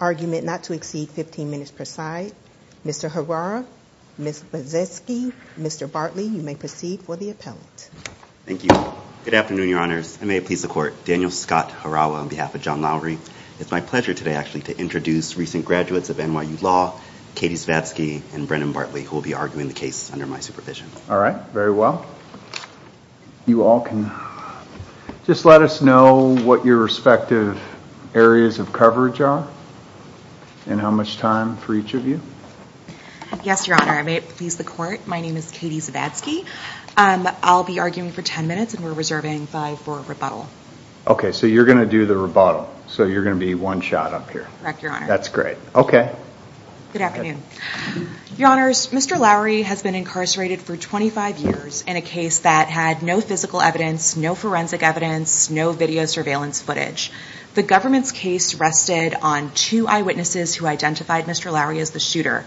Argument not to exceed 15 minutes per side. Mr. Harawa, Ms. Bozeski, Mr. Bartley, you may proceed for the appellate. Thank you. Good afternoon, Your Honors. I may please the Court. Daniel Scott Harawa on behalf of John Lowery. It's my pleasure today, actually, to introduce recent graduates of NYU Law, Katie Svatsky and Brendan Bartley, who will be arguing the supervision. All right. Very well. You all can just let us know what your respective areas of coverage are and how much time for each of you. Yes, Your Honor. I may please the Court. My name is Katie Svatsky. I'll be arguing for 10 minutes and we're reserving five for rebuttal. Okay. So you're going to do the rebuttal. So you're going to be one shot up here. Correct, Your Honor. That's great. Okay. Good afternoon. Your Honors, Mr. Lowery has been incarcerated for 25 years in a case that had no physical evidence, no forensic evidence, no video surveillance footage. The government's case rested on two eyewitnesses who identified Mr. Lowery as the shooter.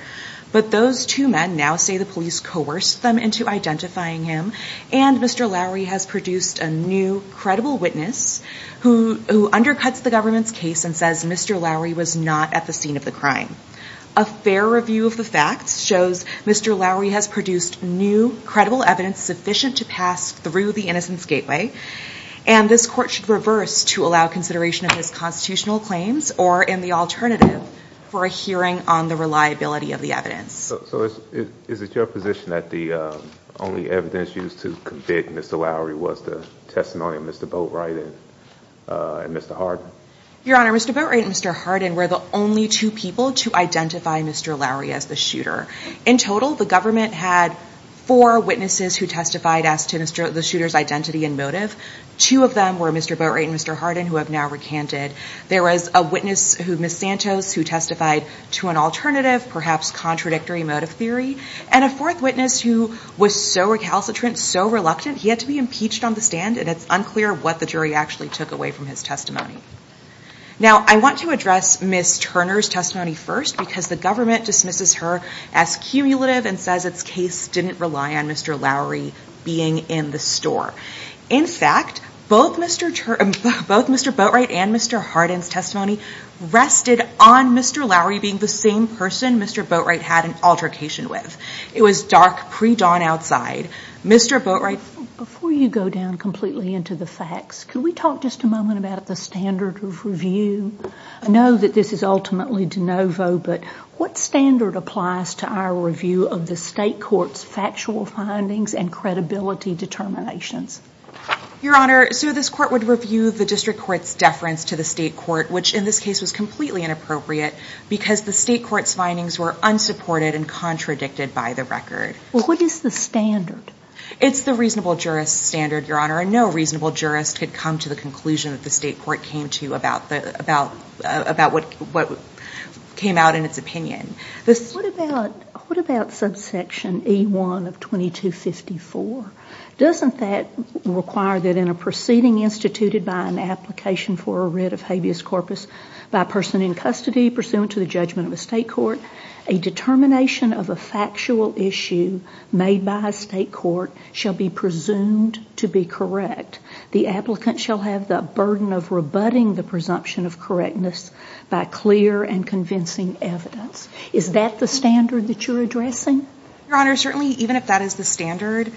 But those two men now say the police coerced them into identifying him and Mr. Lowery has produced a new credible witness who undercuts the government's case and says Mr. Lowery was not at the scene of the crime. A fair review of the facts shows Mr. Lowery has produced new credible evidence sufficient to pass through the Innocence Gateway and this Court should reverse to allow consideration of his constitutional claims or in the alternative for a hearing on the reliability of the evidence. So is it your position that the only evidence used to convict Mr. Lowery was the testimony of Mr. Boatwright and Mr. Hardin? Your Honor, Mr. Boatwright and Mr. Hardin were the only two people to identify Mr. Lowery as the shooter. In total, the government had four witnesses who testified as to the shooter's identity and motive. Two of them were Mr. Boatwright and Mr. Hardin who have now recanted. There was a witness, Ms. Santos, who testified to an alternative, perhaps contradictory motive theory, and a fourth witness who was so recalcitrant, so reluctant, he had to be impeached on the stand and it's unclear what the jury actually took away from his testimony. Now, I want to address Ms. Turner's testimony first because the government dismisses her as cumulative and says its case didn't rely on Mr. Lowery being in the store. In fact, both Mr. Boatwright and Mr. Hardin's testimony rested on Mr. Lowery being the same person Mr. Boatwright had an altercation with. It was dark pre-dawn outside. Mr. Boatwright, before you go down completely into the facts, can we talk just a moment about the standard of review? I know that this is ultimately de novo, but what standard applies to our review of the state court's factual findings and credibility determinations? Your Honor, so this court would review the district court's deference to the state court, which in this case was completely inappropriate because the state court's findings were unsupported and contradicted by the record. Well, what is the standard? It's the reasonable jurist's standard, Your Honor, and no reasonable jurist could come to the conclusion that the state court came to about what came out in its opinion. What about subsection E1 of 2254? Doesn't that require that in a proceeding instituted by an application for a writ of habeas corpus by a person in custody pursuant to the judgment of a state court, a determination of a factual issue made by a state court shall be presumed to be correct. The applicant shall have the burden of rebutting the presumption of correctness by clear and convincing evidence. Is that the standard that you're addressing? Your Honor, certainly even if that is the standard,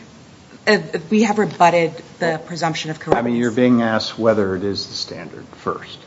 we have rebutted the presumption of correctness. You're being asked whether it is the standard first.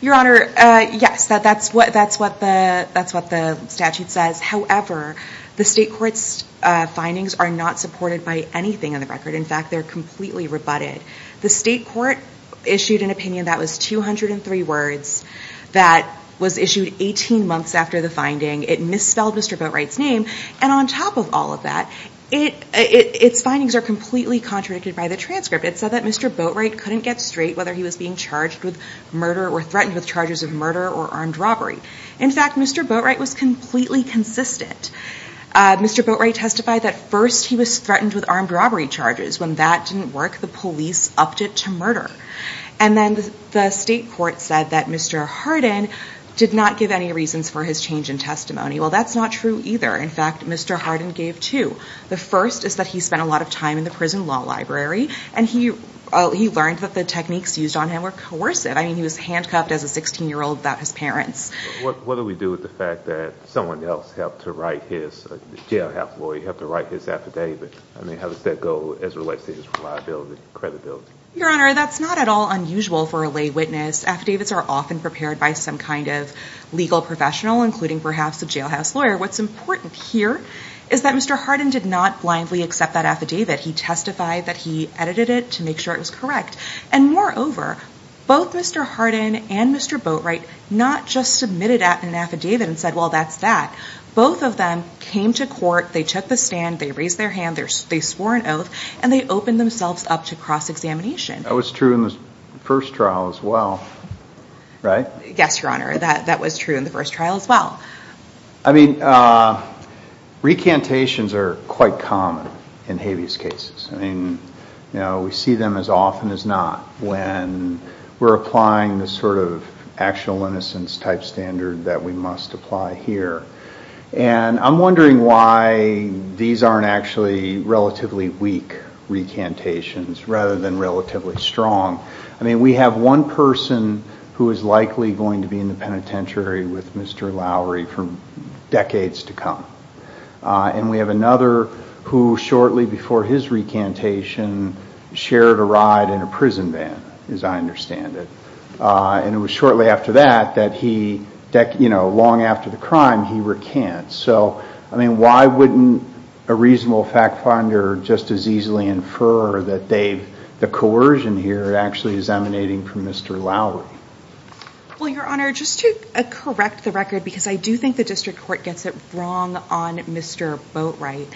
Your Honor, yes, that's what the statute says. However, the state court's findings are not supported by anything in the record. In fact, they're completely rebutted. The state court issued an opinion that was 203 words that was issued 18 months after the finding. It misspelled Mr. Boatwright's name. And on top of all of that, its findings are completely contradicted by the transcript. It said that Mr. Boatwright couldn't get straight whether he was being charged with murder or threatened with charges of murder or armed robbery. In fact, Mr. Boatwright was completely consistent. Mr. Boatwright testified that first he was threatened with armed robbery charges. When that didn't work, the police upped it to murder. And then the state court said that Mr. Hardin did not give any reasons for his change in testimony. Well, that's not true either. In fact, Mr. Hardin gave two. The first is that he spent a lot of time in the prison law library, and he learned that the techniques used on him were coercive. I mean, he was handcuffed as a 16-year-old without his parents. What do we do with the fact that someone else helped to write his jailhouse lawyer, helped to write his affidavit? I mean, how does that go as it relates to his reliability and credibility? Your Honor, that's not at all unusual for a lay witness. Affidavits are often prepared by some kind of legal professional, including perhaps a jailhouse lawyer. What's important here is that Mr. Hardin did not blindly accept that And moreover, both Mr. Hardin and Mr. Boatwright not just submitted an affidavit and said, well, that's that. Both of them came to court, they took the stand, they raised their hand, they swore an oath, and they opened themselves up to cross-examination. That was true in the first trial as well, right? Yes, Your Honor, that was true in the first trial as well. I mean, recantations are quite common in habeas cases. I mean, you know, we see them as often as not when we're applying the sort of actual innocence type standard that we must apply here. And I'm wondering why these aren't actually relatively weak recantations rather than relatively strong. I mean, we have one person who is likely going to be in the penitentiary with Mr. Lowery for decades to come. And we have another who shortly before his recantation shared a ride in a prison van, as I understand it. And it was shortly after that that he, you know, long after the crime, he recant. So, I mean, why wouldn't a reasonable fact finder just as easily infer that the coercion here actually is emanating from Mr. Lowery? Well, Your Honor, just to correct the record, because I do think the district court gets it wrong on Mr. Boatwright.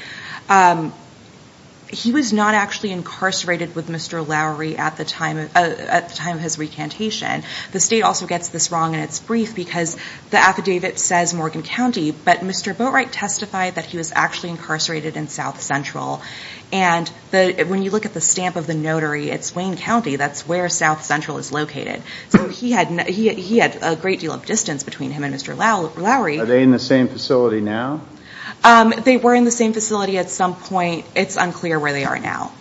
He was not actually incarcerated with Mr. Lowery at the time of his recantation. The state also gets this wrong in its brief because the affidavit says Morgan County, but Mr. Boatwright testified that he was actually incarcerated in South Central. And when you look at the stamp of the notary, it's Wayne County. That's where South Central is located. So he had a great deal of distance between him and Mr. Lowery. Are they in the same facility now? They were in the same facility at some point. It's unclear where they are now.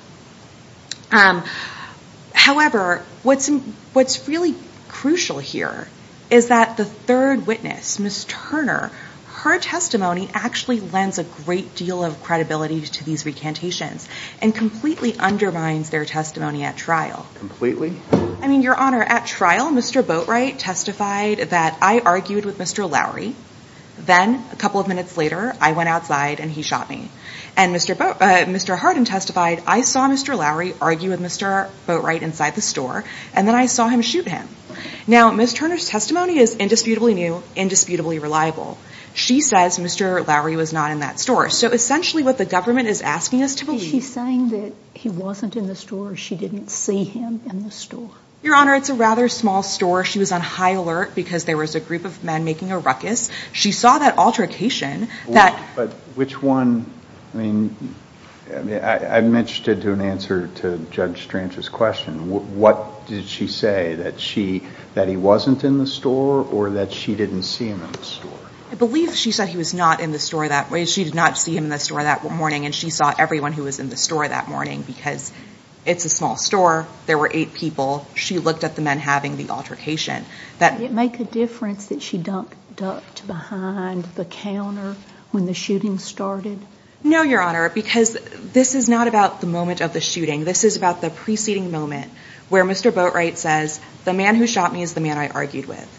However, what's really crucial here is that the third witness, Ms. Turner, her testimony actually lends a great deal of credibility to these recantations and completely undermines their testimony at trial. Completely? I mean, Ms. Turner's testimony is indisputably new, indisputably reliable. She says Mr. Lowery was not in that store. So essentially what the government is asking us to believe... Is she saying that he wasn't in the store or she didn't see him in the store? Your Honor, it's a rather small store. She was on high alert because there was a group of men making a ruckus. She saw that altercation. But which one... I mean, I'm interested to an answer to Judge Strange's question. What did she say? That he wasn't in the store or that she didn't see him in the store? I believe she said he was not in the store that way. She did not see him in the store that morning and she saw everyone who was in the store that morning because it's a small store. There were eight people. She looked at the men having the altercation. Did it make a difference that she ducked behind the counter when the shooting started? No, Your Honor, because this is not about the moment of the shooting. This is about the preceding moment where Mr. Boatwright says, the man who shot me is the man I argued with.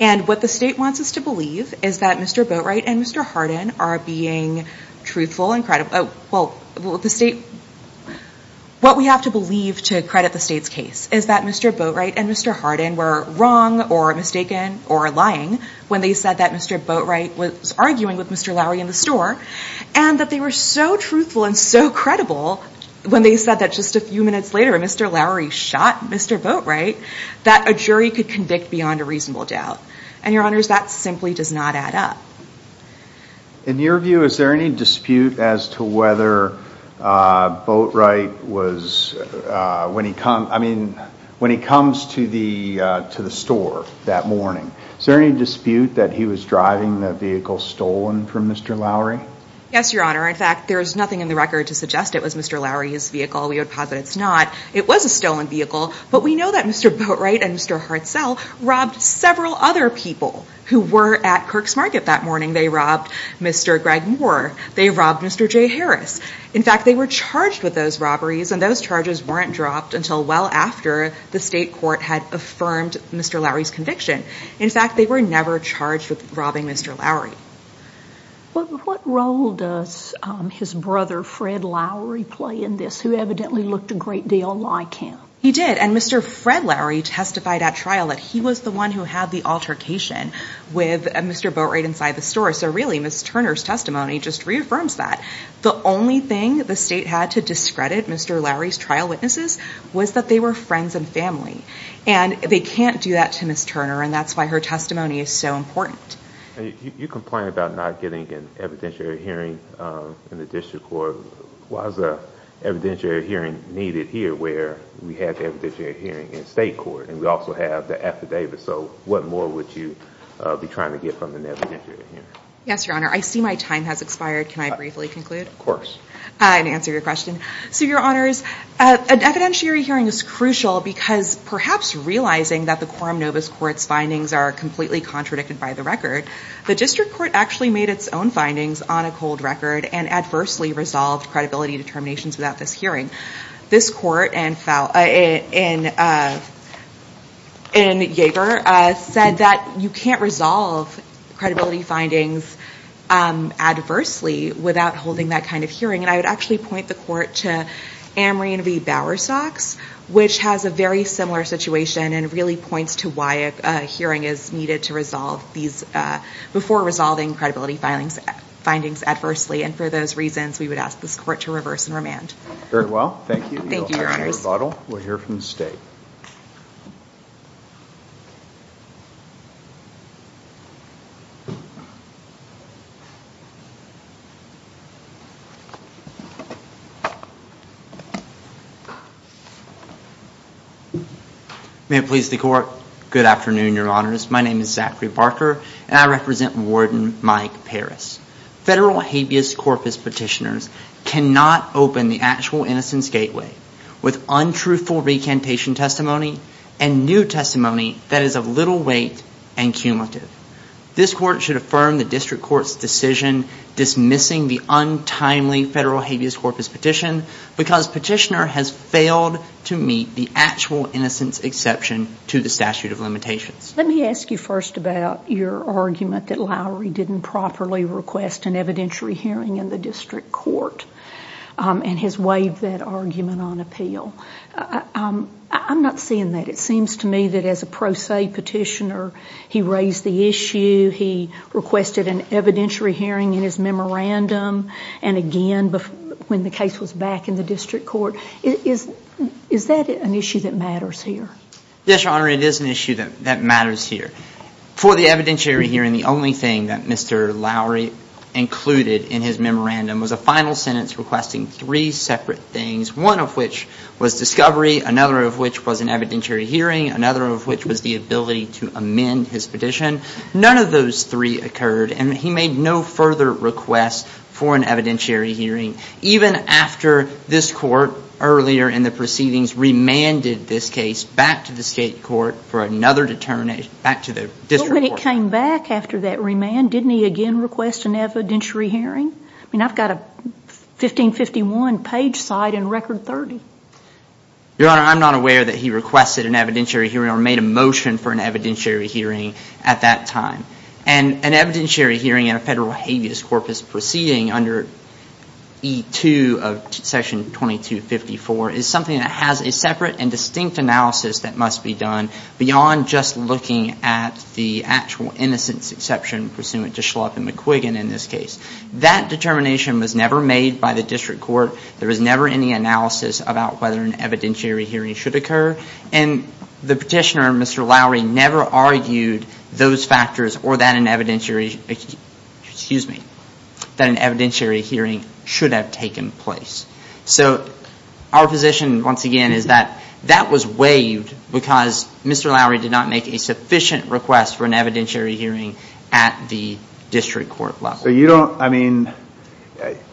And what the state wants us to believe is that Mr. Boatwright and Mr. Hardin are being truthful and credible... Well, the state... What we have to believe to credit the state's case is that Mr. Boatwright and Mr. Hardin were wrong or mistaken or lying when they said that Mr. Boatwright was arguing with Mr. Lowry in the store and that they were so truthful and so credible when they said that just a few minutes later Mr. Lowry shot Mr. Boatwright that a jury could convict beyond a reasonable doubt. And, Your Honors, that simply does not add up. In your view, is there any dispute as to whether Boatwright was, when he comes to the store that morning, is there any dispute that he was driving the vehicle stolen from Mr. Lowry? Yes, Your Honor. In fact, there is nothing in the record to suggest it was Mr. Lowry's vehicle. We would posit it's not. It was a stolen vehicle, but we know that Mr. Boatwright and Mr. Hartzell robbed several other people who were at Kirk's Market that morning. They robbed Mr. Greg Moore. They robbed Mr. J. Harris. In fact, they were charged with those robberies, and those charges weren't dropped until well after the state court had affirmed Mr. Lowry's conviction. In fact, they were never charged with robbing Mr. Lowry. What role does his brother, Fred Lowry, play in this, who evidently looked a great deal like him? He did, and Mr. Fred Lowry testified at trial that he was the one who had the altercation with Mr. Boatwright inside the store. So really, Ms. Turner's state had to discredit Mr. Lowry's trial witnesses was that they were friends and family, and they can't do that to Ms. Turner, and that's why her testimony is so important. You complain about not getting an evidentiary hearing in the district court. Why is an evidentiary hearing needed here where we have the evidentiary hearing in state court, and we also have the affidavit, so what more would you be trying to get from an evidentiary hearing? Yes, Your Honor, I'll answer your question. So, Your Honors, an evidentiary hearing is crucial because perhaps realizing that the Quorum Novus Court's findings are completely contradicted by the record, the district court actually made its own findings on a cold record and adversely resolved credibility determinations without this hearing. This court in Yeager said that you can't resolve credibility findings adversely without holding that kind of hearing, and I would actually point the court to Anne Marie Bowersox, which has a very similar situation and really points to why a hearing is needed to resolve these, before resolving credibility findings adversely, and for those reasons, we would ask this court to reverse and remand. Very well. Thank you. You'll have your rebuttal. We'll hear from the state. May it please the court. Good afternoon, Your Honors. My name is Zachary Barker, and I represent Warden Mike Paris. Federal habeas corpus petitioners cannot open the actual innocence gateway with untruthful recantation testimony and new testimony that is of little weight and cumulative. This court should affirm the district court's decision dismissing the untimely federal habeas corpus petition because petitioner has failed to meet the actual innocence exception to the statute of limitations. Let me ask you first about your argument that Lowry didn't properly request an evidentiary hearing in the district court and has waived that argument on appeal. I'm not seeing that. It seems to me that as a pro se petitioner, he raised the issue, he requested an evidentiary hearing in his memorandum, and again, when the case was back in the district court. Is that an issue that matters here? Yes, Your Honor, it is an issue that matters here. For the evidentiary hearing, the only thing that Mr. Lowry included in his memorandum was a final sentence requesting three separate things, one of which was discovery, another of which was an evidentiary hearing, another of which was the ability to amend his petition. None of those three occurred, and he made no further request for an evidentiary hearing, even after this court earlier in the proceedings remanded this case back to the state court for another determination, back to the district court. But when it came back after that remand, didn't he again request an evidentiary hearing? I mean, I've got a 1551 page cite and record 30. Your Honor, I'm not aware that he requested an evidentiary hearing or made a motion for an evidentiary hearing at that time. And an evidentiary hearing in a federal habeas corpus proceeding under E2 of section 2254 is something that has a separate and distinct analysis that must be done beyond just looking at the actual innocence exception pursuant to Schlup and McQuiggan in this case. That determination was never made by the district court. There was never any analysis about whether an evidentiary hearing should occur. And the petitioner, Mr. Lowry, never argued those factors or that an evidentiary hearing should have taken place. So our position, once again, is that that was waived because Mr. Lowry did not make a sufficient request for an evidentiary hearing at the district court level. So you don't, I mean,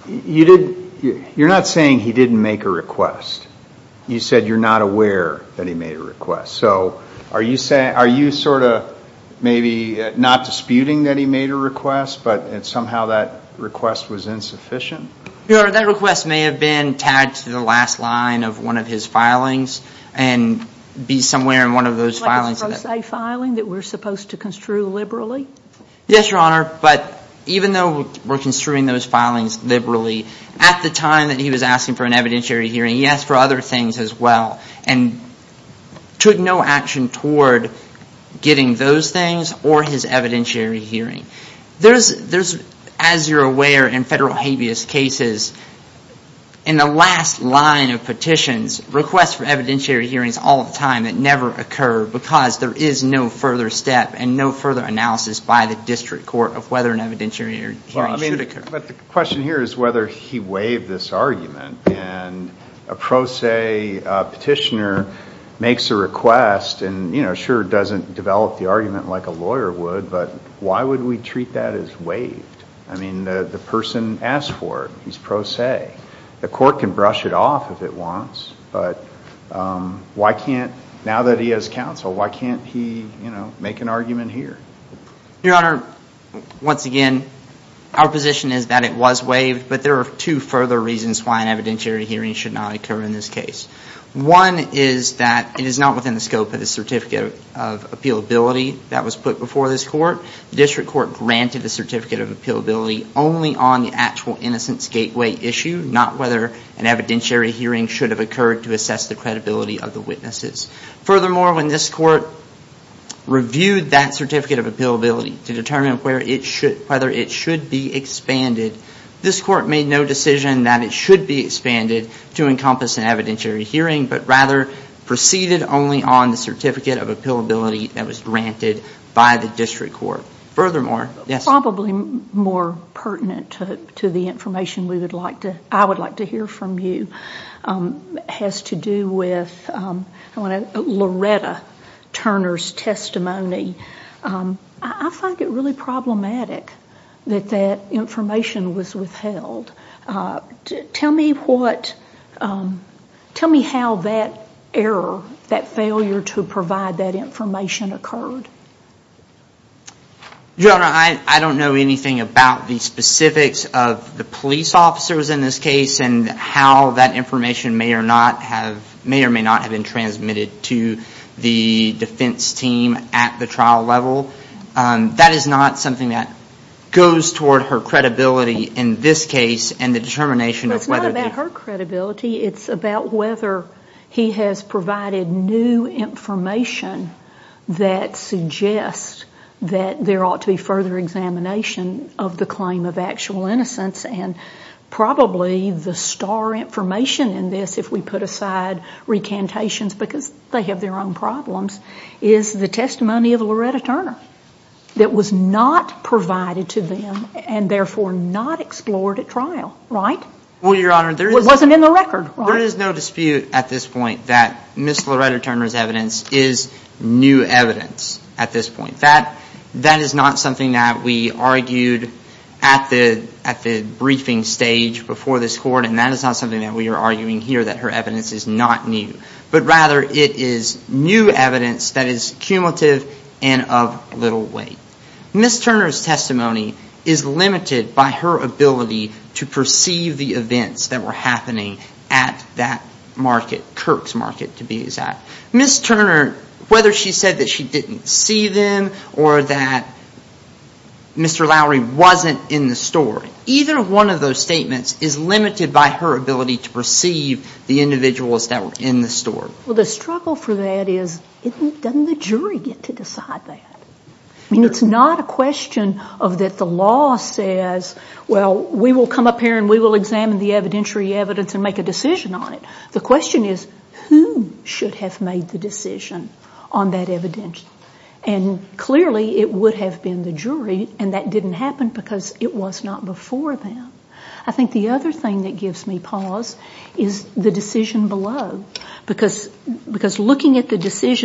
you did, you're not saying he didn't make a request. You said you're not aware that he made a request. So are you saying, are you sort of maybe not disputing that he made a request, but somehow that request was insufficient? Your Honor, that request may have been tagged to the last line of one of his filings and be somewhere in one of those filings. Like his pro se filing that we're supposed to construe liberally? Yes, Your Honor. But even though we're construing those filings liberally, at the time that he was asking for an evidentiary hearing, he asked for other things as well and took no action toward getting those things or his evidentiary hearing. There's, as you're aware in federal habeas cases, in the last line of petitions, requests for evidentiary hearings all the time that never occur because there is no further step and no further analysis by the district court of whether an evidentiary hearing should occur. But the question here is whether he waived this argument. And a pro se petitioner makes a request and, you know, sure doesn't develop the argument like a lawyer would, but why would we treat that as waived? I mean, the person asked for it. He's pro se. The court can brush it off if it wants. But why can't, now that he has counsel, why can't he make an argument here? Your Honor, once again, our position is that it was waived, but there are two further reasons why an evidentiary hearing should not occur in this case. One is that it is not within the scope of the certificate of appealability that was put before this court. The district court granted the certificate of appealability only on the actual innocence gateway issue, not whether an evidentiary hearing should have occurred to assess the credibility of the witnesses. Furthermore, when this court reviewed that certificate of appealability to determine whether it should be expanded, this court made no decision that it should be expanded to encompass an evidentiary hearing, but rather proceeded only on the certificate of appealability that was granted by the district court. Furthermore, yes? This is probably more pertinent to the information I would like to hear from you. It has to do with Loretta Turner's testimony. I find it really problematic that that information was withheld. Tell me how that error, that failure to provide that information occurred. Your Honor, I don't know anything about the specifics of the police officers in this case and how that information may or may not have been transmitted to the defense team at the trial level. That is not something that goes toward her credibility in this case and the determination of whether... It's not about her credibility. It's about whether he has provided new information that suggests that there ought to be further examination of the claim of actual innocence and probably the star information in this, if we put aside recantations because they have their own problems, is the testimony of Loretta Turner that was not provided to them and therefore not explored at trial, right? Well, Your Honor, there is... It wasn't in the record, right? There is no dispute at this point that Ms. Loretta Turner's evidence is new evidence at this point. That is not something that we argued at the briefing stage before this court and that is not something that we are arguing here that her evidence is not new, but rather it is new evidence that is cumulative and of little weight. Ms. Turner's testimony is limited by her ability to perceive the events that were happening at that market, Kirk's Market to be exact. Ms. Turner, whether she said that she didn't see them or that Mr. Lowery wasn't in the store, either one of those statements is limited by her ability to perceive the individuals that were in the store. Well, the struggle for that is doesn't the jury get to decide that? I mean, it's not a question of that the law says, well, we will come up here and we will examine the evidentiary evidence and make a decision on it. The question is who should have made the decision on that evidence? And clearly it would have been the jury and that didn't happen because it was not before them. I think the other thing that gives me pause is the decision below because looking at the message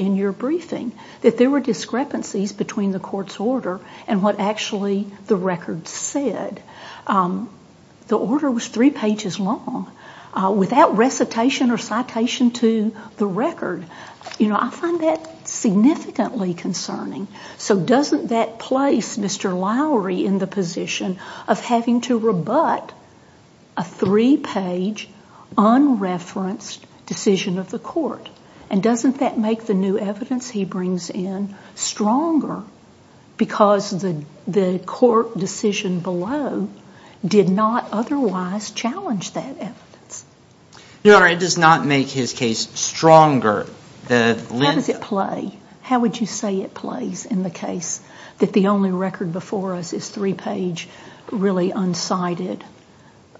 in your briefing, that there were discrepancies between the court's order and what actually the record said. The order was three pages long. Without recitation or citation to the record, I find that significantly concerning. So doesn't that place Mr. Lowery in the position of having to rebut a three-page, unreferenced decision of the court? And doesn't that make the new evidence he brings in stronger because the court decision below did not otherwise challenge that evidence? Your Honor, it does not make his case stronger. How does it play? How would you say it plays in the case that the only record before us is three-page, really unsighted,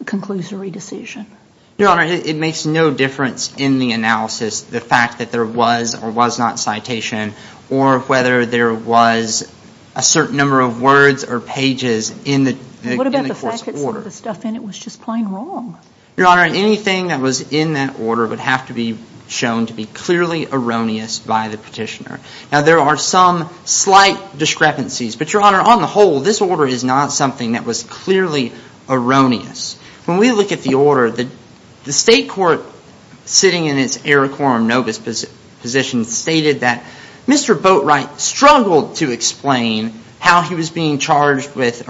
conclusory decision? Your Honor, it makes no difference in the analysis the fact that there was or was not citation or whether there was a certain number of words or pages in the court's order. What about the fact that some of the stuff in it was just plain wrong? Your Honor, anything that was in that order would have to be shown to be clearly erroneous by the petitioner. Now there are some slight discrepancies, but Your Honor, on the whole, this order is not something that was clearly erroneous. When we look at the order, the state court sitting in its Iroquois or Novus position stated that Mr. Boatwright struggled to explain how he was being threatened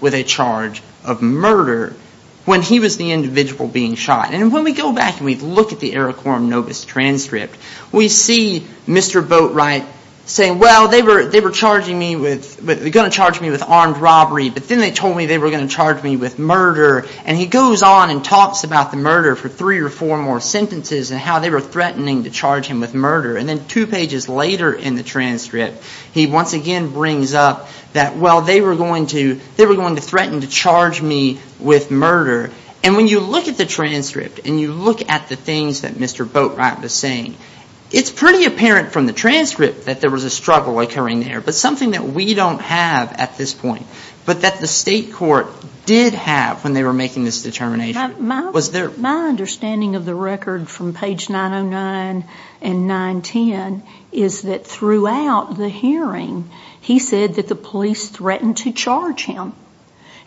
with a charge of murder when he was the individual being shot. And when we go back and we look at the Iroquois or Novus transcript, we see Mr. Boatwright saying, well, they were going to charge me with armed robbery, but then they told me they were going to charge me with murder. And he goes on and talks about the murder for three or four more sentences and how they were threatening to charge him with murder. And then two pages later in the transcript, he once again brings up that, well, they were going to threaten to charge me with murder. And when you look at the transcript and you look at the things that Mr. Boatwright was saying, it's pretty apparent from the transcript that there was a struggle occurring there, but something that we don't have at this point, but that the state court did have when they were making this determination. My understanding of the record from page 909 and 910 is that throughout the hearing, he said that the police threatened to charge him.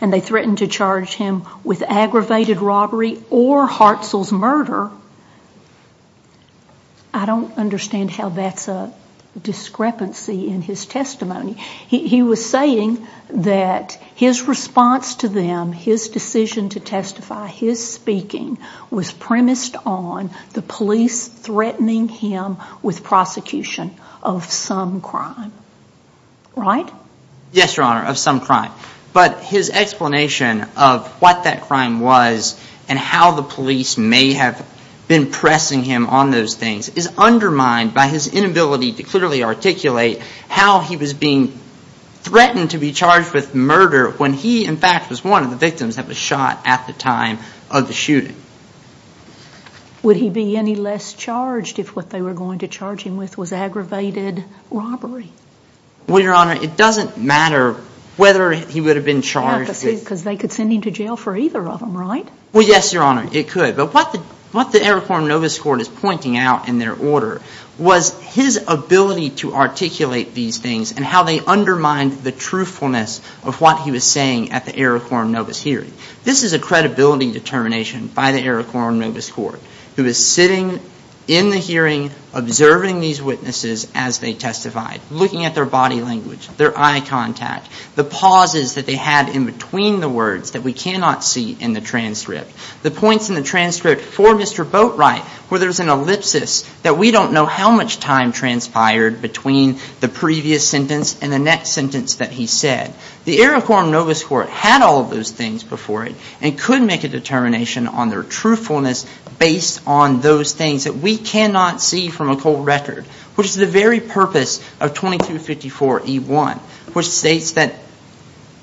And they threatened to charge him with Russell's murder. I don't understand how that's a discrepancy in his testimony. He was saying that his response to them, his decision to testify, his speaking was premised on the police threatening him with prosecution of some crime. Right? Yes, Your Honor, of some crime. But his explanation of what that crime was and how the police may have been pressing him on those things is undermined by his inability to clearly articulate how he was being threatened to be charged with murder when he, in fact, was one of the victims that was shot at the time of the shooting. Would he be any less charged if what they were going to charge him with was aggravated robbery? Well, Your Honor, it doesn't matter whether he would have been charged with... Yeah, because they could send him to jail for either of them, right? Well, yes, Your Honor, it could. But what the Iroquois and Novice Court is pointing out in their order was his ability to articulate these things and how they undermined the truthfulness of what he was saying at the Iroquois and Novice hearing. This is a credibility determination by the Iroquois and Novice Court, who is sitting in the hearing, observing these witnesses as they testified, looking at their body language, their eye contact, the pauses that they had in between the words that we cannot see in the transcript, the points in the transcript for Mr. Boatwright where there's an ellipsis that we don't know how much time transpired between the previous sentence and the next sentence that he said. The Iroquois and Novice Court had all of those things before it and could make a determination on their truthfulness based on those things that we cannot see from a cold record, which is the very purpose of 2254E1, which states that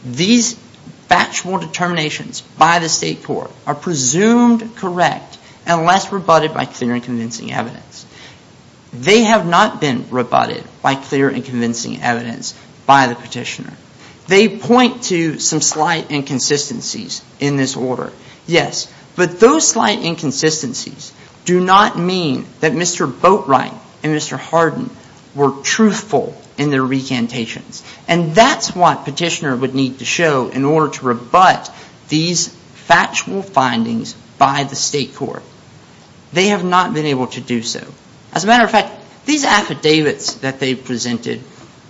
these factual determinations by the State Court are presumed correct unless rebutted by clear and convincing evidence. They have not been rebutted by clear and convincing evidence by the petitioner. They point to some slight inconsistencies in this order, yes, but those slight inconsistencies do not mean that Mr. Boatwright and Mr. Hardin were truthful in their recantations, and that's what petitioner would need to show in order to rebut these factual findings by the State Court. They have not been able to do so. As a matter of fact, these affidavits that they presented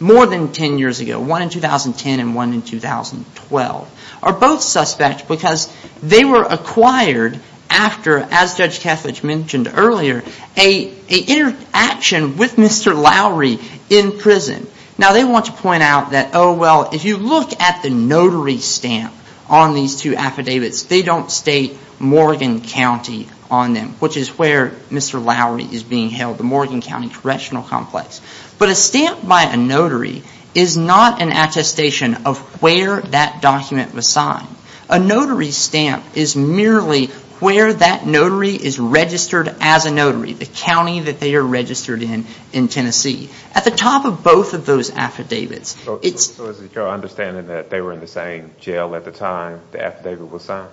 more than ten years ago, one in 2010 and one in 2012, are both suspect because they were acquired after, as Judge Kethledge mentioned earlier, an interaction with Mr. Lowery in prison. Now, they want to point out that, oh, well, if you look at the notary stamp on these two affidavits, they don't state Morgan County on them, which is where Mr. Lowery is being held, the Morgan County Correctional Complex. But a stamp by a notary is not an attestation of where that document was signed. A notary stamp is merely where that notary is registered as a notary, the county that they are registered in in Tennessee. At the top of both of those affidavits, it's... So is it your understanding that they were in the same jail at the time the affidavit was signed?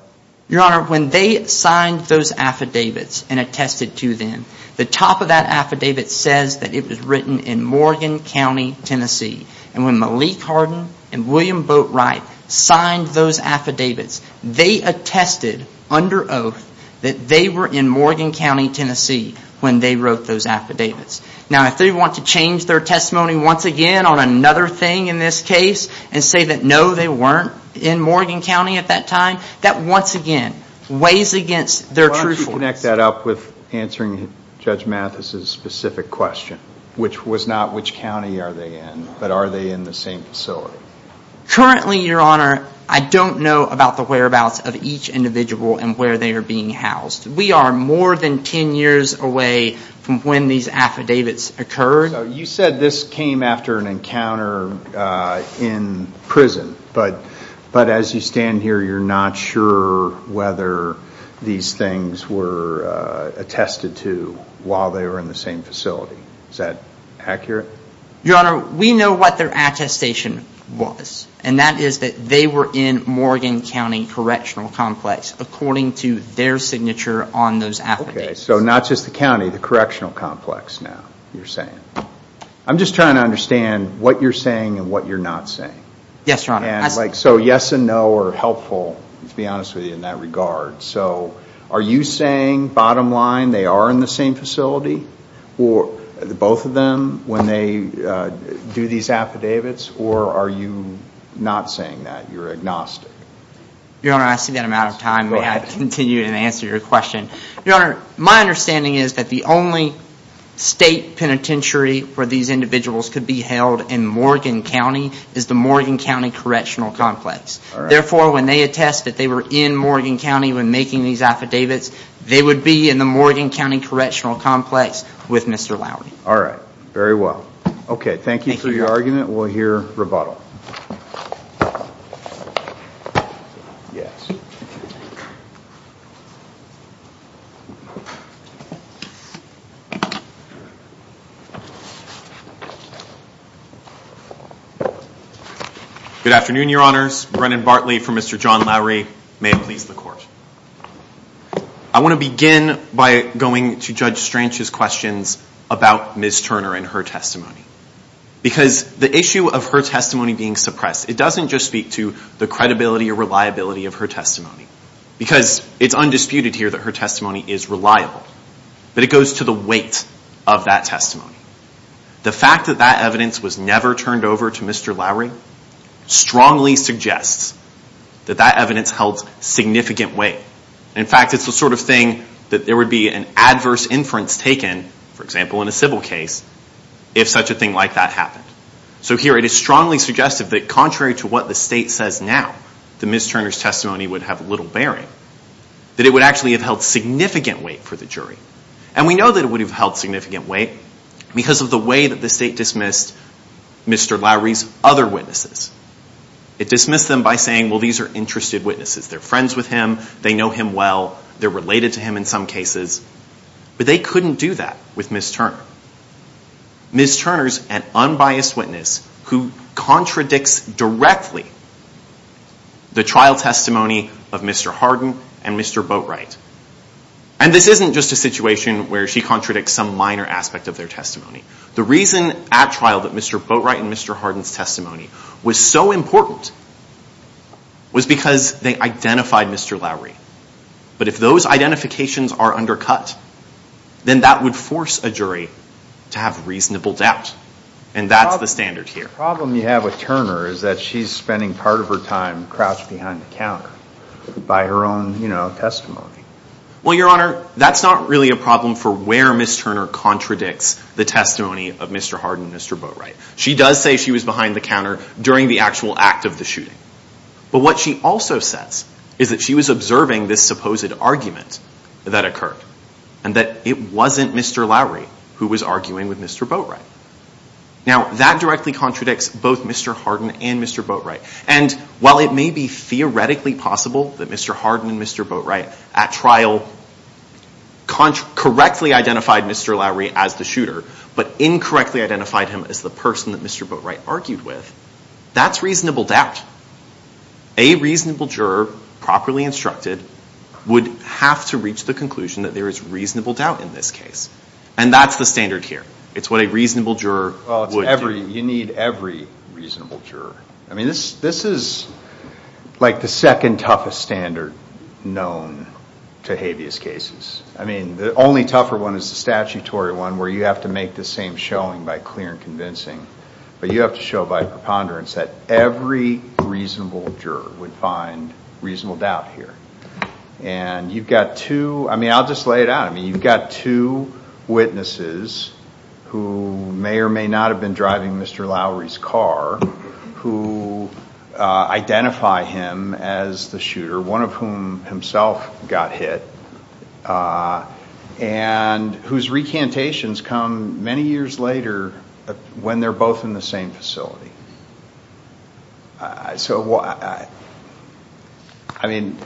Your Honor, when they signed those affidavits and attested to them, the top of that affidavit says that it was written in Morgan County, Tennessee. And when Malik Hardin and William Boatwright signed those affidavits, they attested under oath that they were in Morgan County, Tennessee, when they wrote those affidavits. Now, if they want to change their testimony once again on another thing in this case and say that, no, they weren't in Morgan County at that time, that once again weighs against their truthfulness. Connect that up with answering Judge Mathis's specific question, which was not which county are they in, but are they in the same facility? Currently, Your Honor, I don't know about the whereabouts of each individual and where they are being housed. We are more than 10 years away from when these affidavits occurred. You said this came after an encounter in prison, but as you stand here, you're not sure whether these things were attested to while they were in the same facility. Is that accurate? We know what their attestation was, and that is that they were in Morgan County Correctional Complex, according to their signature on those affidavits. So not just the county, the correctional complex now, you're saying. I'm just trying to understand what you're saying and what you're not saying. Yes, Your Honor. So yes and no are helpful, to be honest with you, in that regard. So are you saying, bottom line, they are in the same facility, both of them, when they do these affidavits, or are you not saying that? You're agnostic. Your Honor, I see that I'm out of time. May I continue and answer your question? Your Honor, my understanding is that the only state penitentiary where these individuals could be held in Morgan County is the Morgan County Correctional Complex. Therefore, when they attest that they were in Morgan County when making these affidavits, they would be in the Morgan County Correctional Complex with Mr. Lowery. All right. Very well. Okay, thank you for your argument. We'll hear rebuttal. Good afternoon, Your Honors. Brennan Bartley for Mr. John Lowery. May it please the Court. I want to begin by going to Judge Strange's questions about Ms. Turner and her testimony. Because the issue of her testimony being suppressed, it doesn't just speak to the credibility or reliability of her testimony. Because it's undisputed here that her testimony is reliable. But it goes to the weight of that testimony. The fact that that evidence was never turned over to Mr. Lowery strongly suggests that that evidence held significant weight. In fact, it's the sort of thing that there would be an adverse inference taken, for example, in a civil case, if such a thing like that happened. So here, it is strongly suggestive that contrary to what the state says now, that Ms. Turner's testimony would have little bearing, that it would actually have held significant weight for the jury. And we know that it would have held significant weight because of the way that the state dismissed Mr. Lowery's other witnesses. It dismissed them by saying, well, these are interested witnesses. They're friends with him. They know him well. They're related to him in some cases. But they couldn't do that with Ms. Turner. Ms. Turner's an unbiased witness who contradicts directly the trial testimony of Mr. Harden and Mr. Boatright. And this isn't just a situation where she contradicts some minor aspect of their testimony. The reason at trial that Mr. Boatright and Mr. Harden's testimony was so important was because they identified Mr. Lowery. But if those identifications are undercut, then that would force a jury to have reasonable doubt. And that's the standard here. The problem you have with Turner is that she's spending part of her time crouched behind the counter by her own testimony. Well, Your Honor, that's not really a problem for where Ms. Turner contradicts the testimony of Mr. Harden and Mr. Boatright. She does say she was behind the counter during the actual act of the shooting. But what she also says is that she was observing this supposed argument that occurred and that it wasn't Mr. Lowery who was arguing with Mr. Boatright. Now, that directly contradicts both Mr. Harden and Mr. Boatright. And while it may be theoretically possible that Mr. Harden and Mr. Boatright at trial correctly identified Mr. Lowery as the shooter, but incorrectly identified him as the person that Mr. Boatright argued with, that's reasonable doubt. A reasonable juror, properly instructed, would have to reach the conclusion that there is reasonable doubt in this case. And that's the standard here. It's what a reasonable juror would do. You need every reasonable juror. I mean, this is like the second toughest standard known to habeas cases. I mean, the only tougher one is the statutory one where you have to make the same showing by clear and convincing. But you have to show by preponderance that every reasonable juror would find reasonable doubt here. And you've got two, I mean, I'll just lay it out. You've got two witnesses who may or may not have been driving Mr. Lowery's car who identify him as the shooter, one of whom himself got hit, and whose recantations come many years later when they're both in the same facility. So, I mean,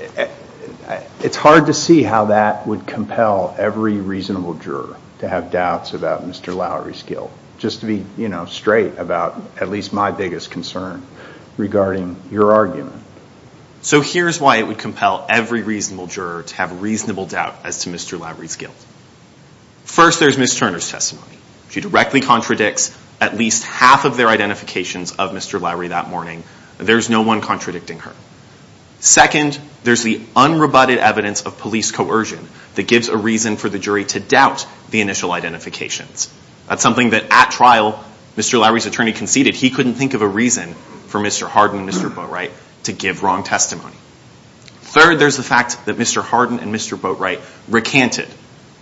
it's hard to see how that would compel every reasonable juror to have doubts about Mr. Lowery's guilt. Just to be, you know, straight about at least my biggest concern regarding your argument. So here's why it would compel every reasonable juror to have reasonable doubt as to Mr. Lowery's guilt. First, there's Ms. Turner's testimony. She directly contradicts at least half of their identifications of Mr. Lowery that morning. There's no one contradicting her. Second, there's the unrebutted evidence of police coercion that gives a reason for the jury to doubt the initial identifications. That's something that at trial, Mr. Lowery's attorney conceded he couldn't think of a reason for Mr. Harden and Mr. Boatwright to give wrong testimony. Third, there's the fact that Mr. Harden and Mr. Boatwright recanted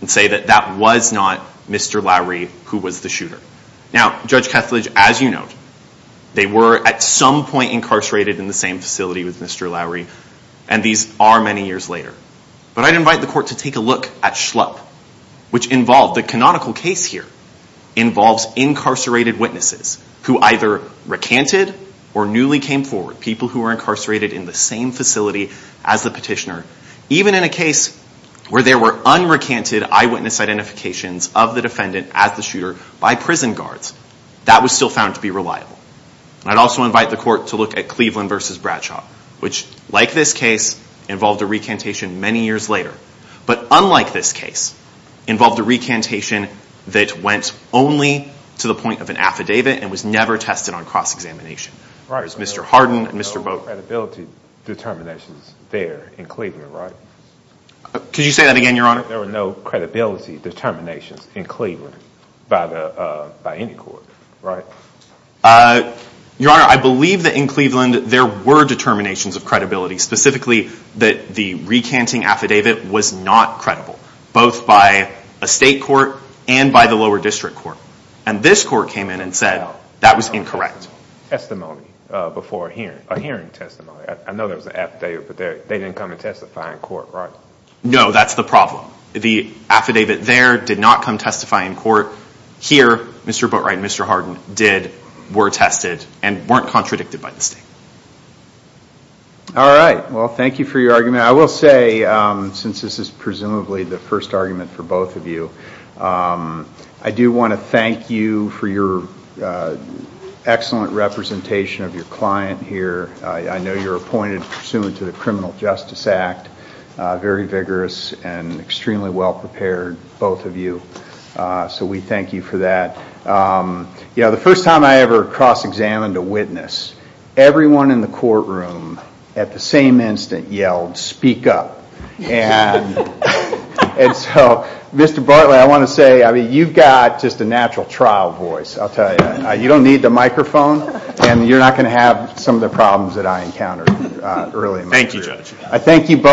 and say that that was not Mr. Lowery who was the shooter. They were at some point incarcerated in the same facility with Mr. Lowery, and these are many years later. But I'd invite the court to take a look at Schlupp, which involved the canonical case here, involves incarcerated witnesses who either recanted or newly came forward, people who were incarcerated in the same facility as the petitioner, even in a case where there were unrecanted eyewitness identifications of the defendant as the I'd also invite the court to look at Cleveland versus Bradshaw, which, like this case, involved a recantation many years later. But unlike this case, involved a recantation that went only to the point of an affidavit and was never tested on cross-examination. Right. There was no credibility determinations there in Cleveland, right? Could you say that again, Your Honor? There were no credibility determinations in Cleveland by any court, right? Your Honor, I believe that in Cleveland there were determinations of credibility, specifically that the recanting affidavit was not credible, both by a state court and by the lower district court. And this court came in and said that was incorrect. Testimony before a hearing, a hearing testimony. I know there was an affidavit, but they didn't come and testify in court, right? No, that's the problem. The affidavit there did not come testify in court. Here, Mr. Boatwright and Mr. Harden did, were tested, and weren't contradicted by the state. All right. Well, thank you for your argument. I will say, since this is presumably the first argument for both of you, I do want to thank you for your excellent representation of your client here. I know you're appointed pursuant to the Criminal Justice Act. Very vigorous and extremely well prepared, both of you. So we thank you for that. You know, the first time I ever cross-examined a witness, everyone in the courtroom at the same instant yelled, speak up. And so, Mr. Bartlett, I want to say, I mean, you've got just a natural trial voice, I'll tell you. You don't need the microphone, and you're not going to have some of the problems that I encountered earlier. Thank you, Judge. I thank you both.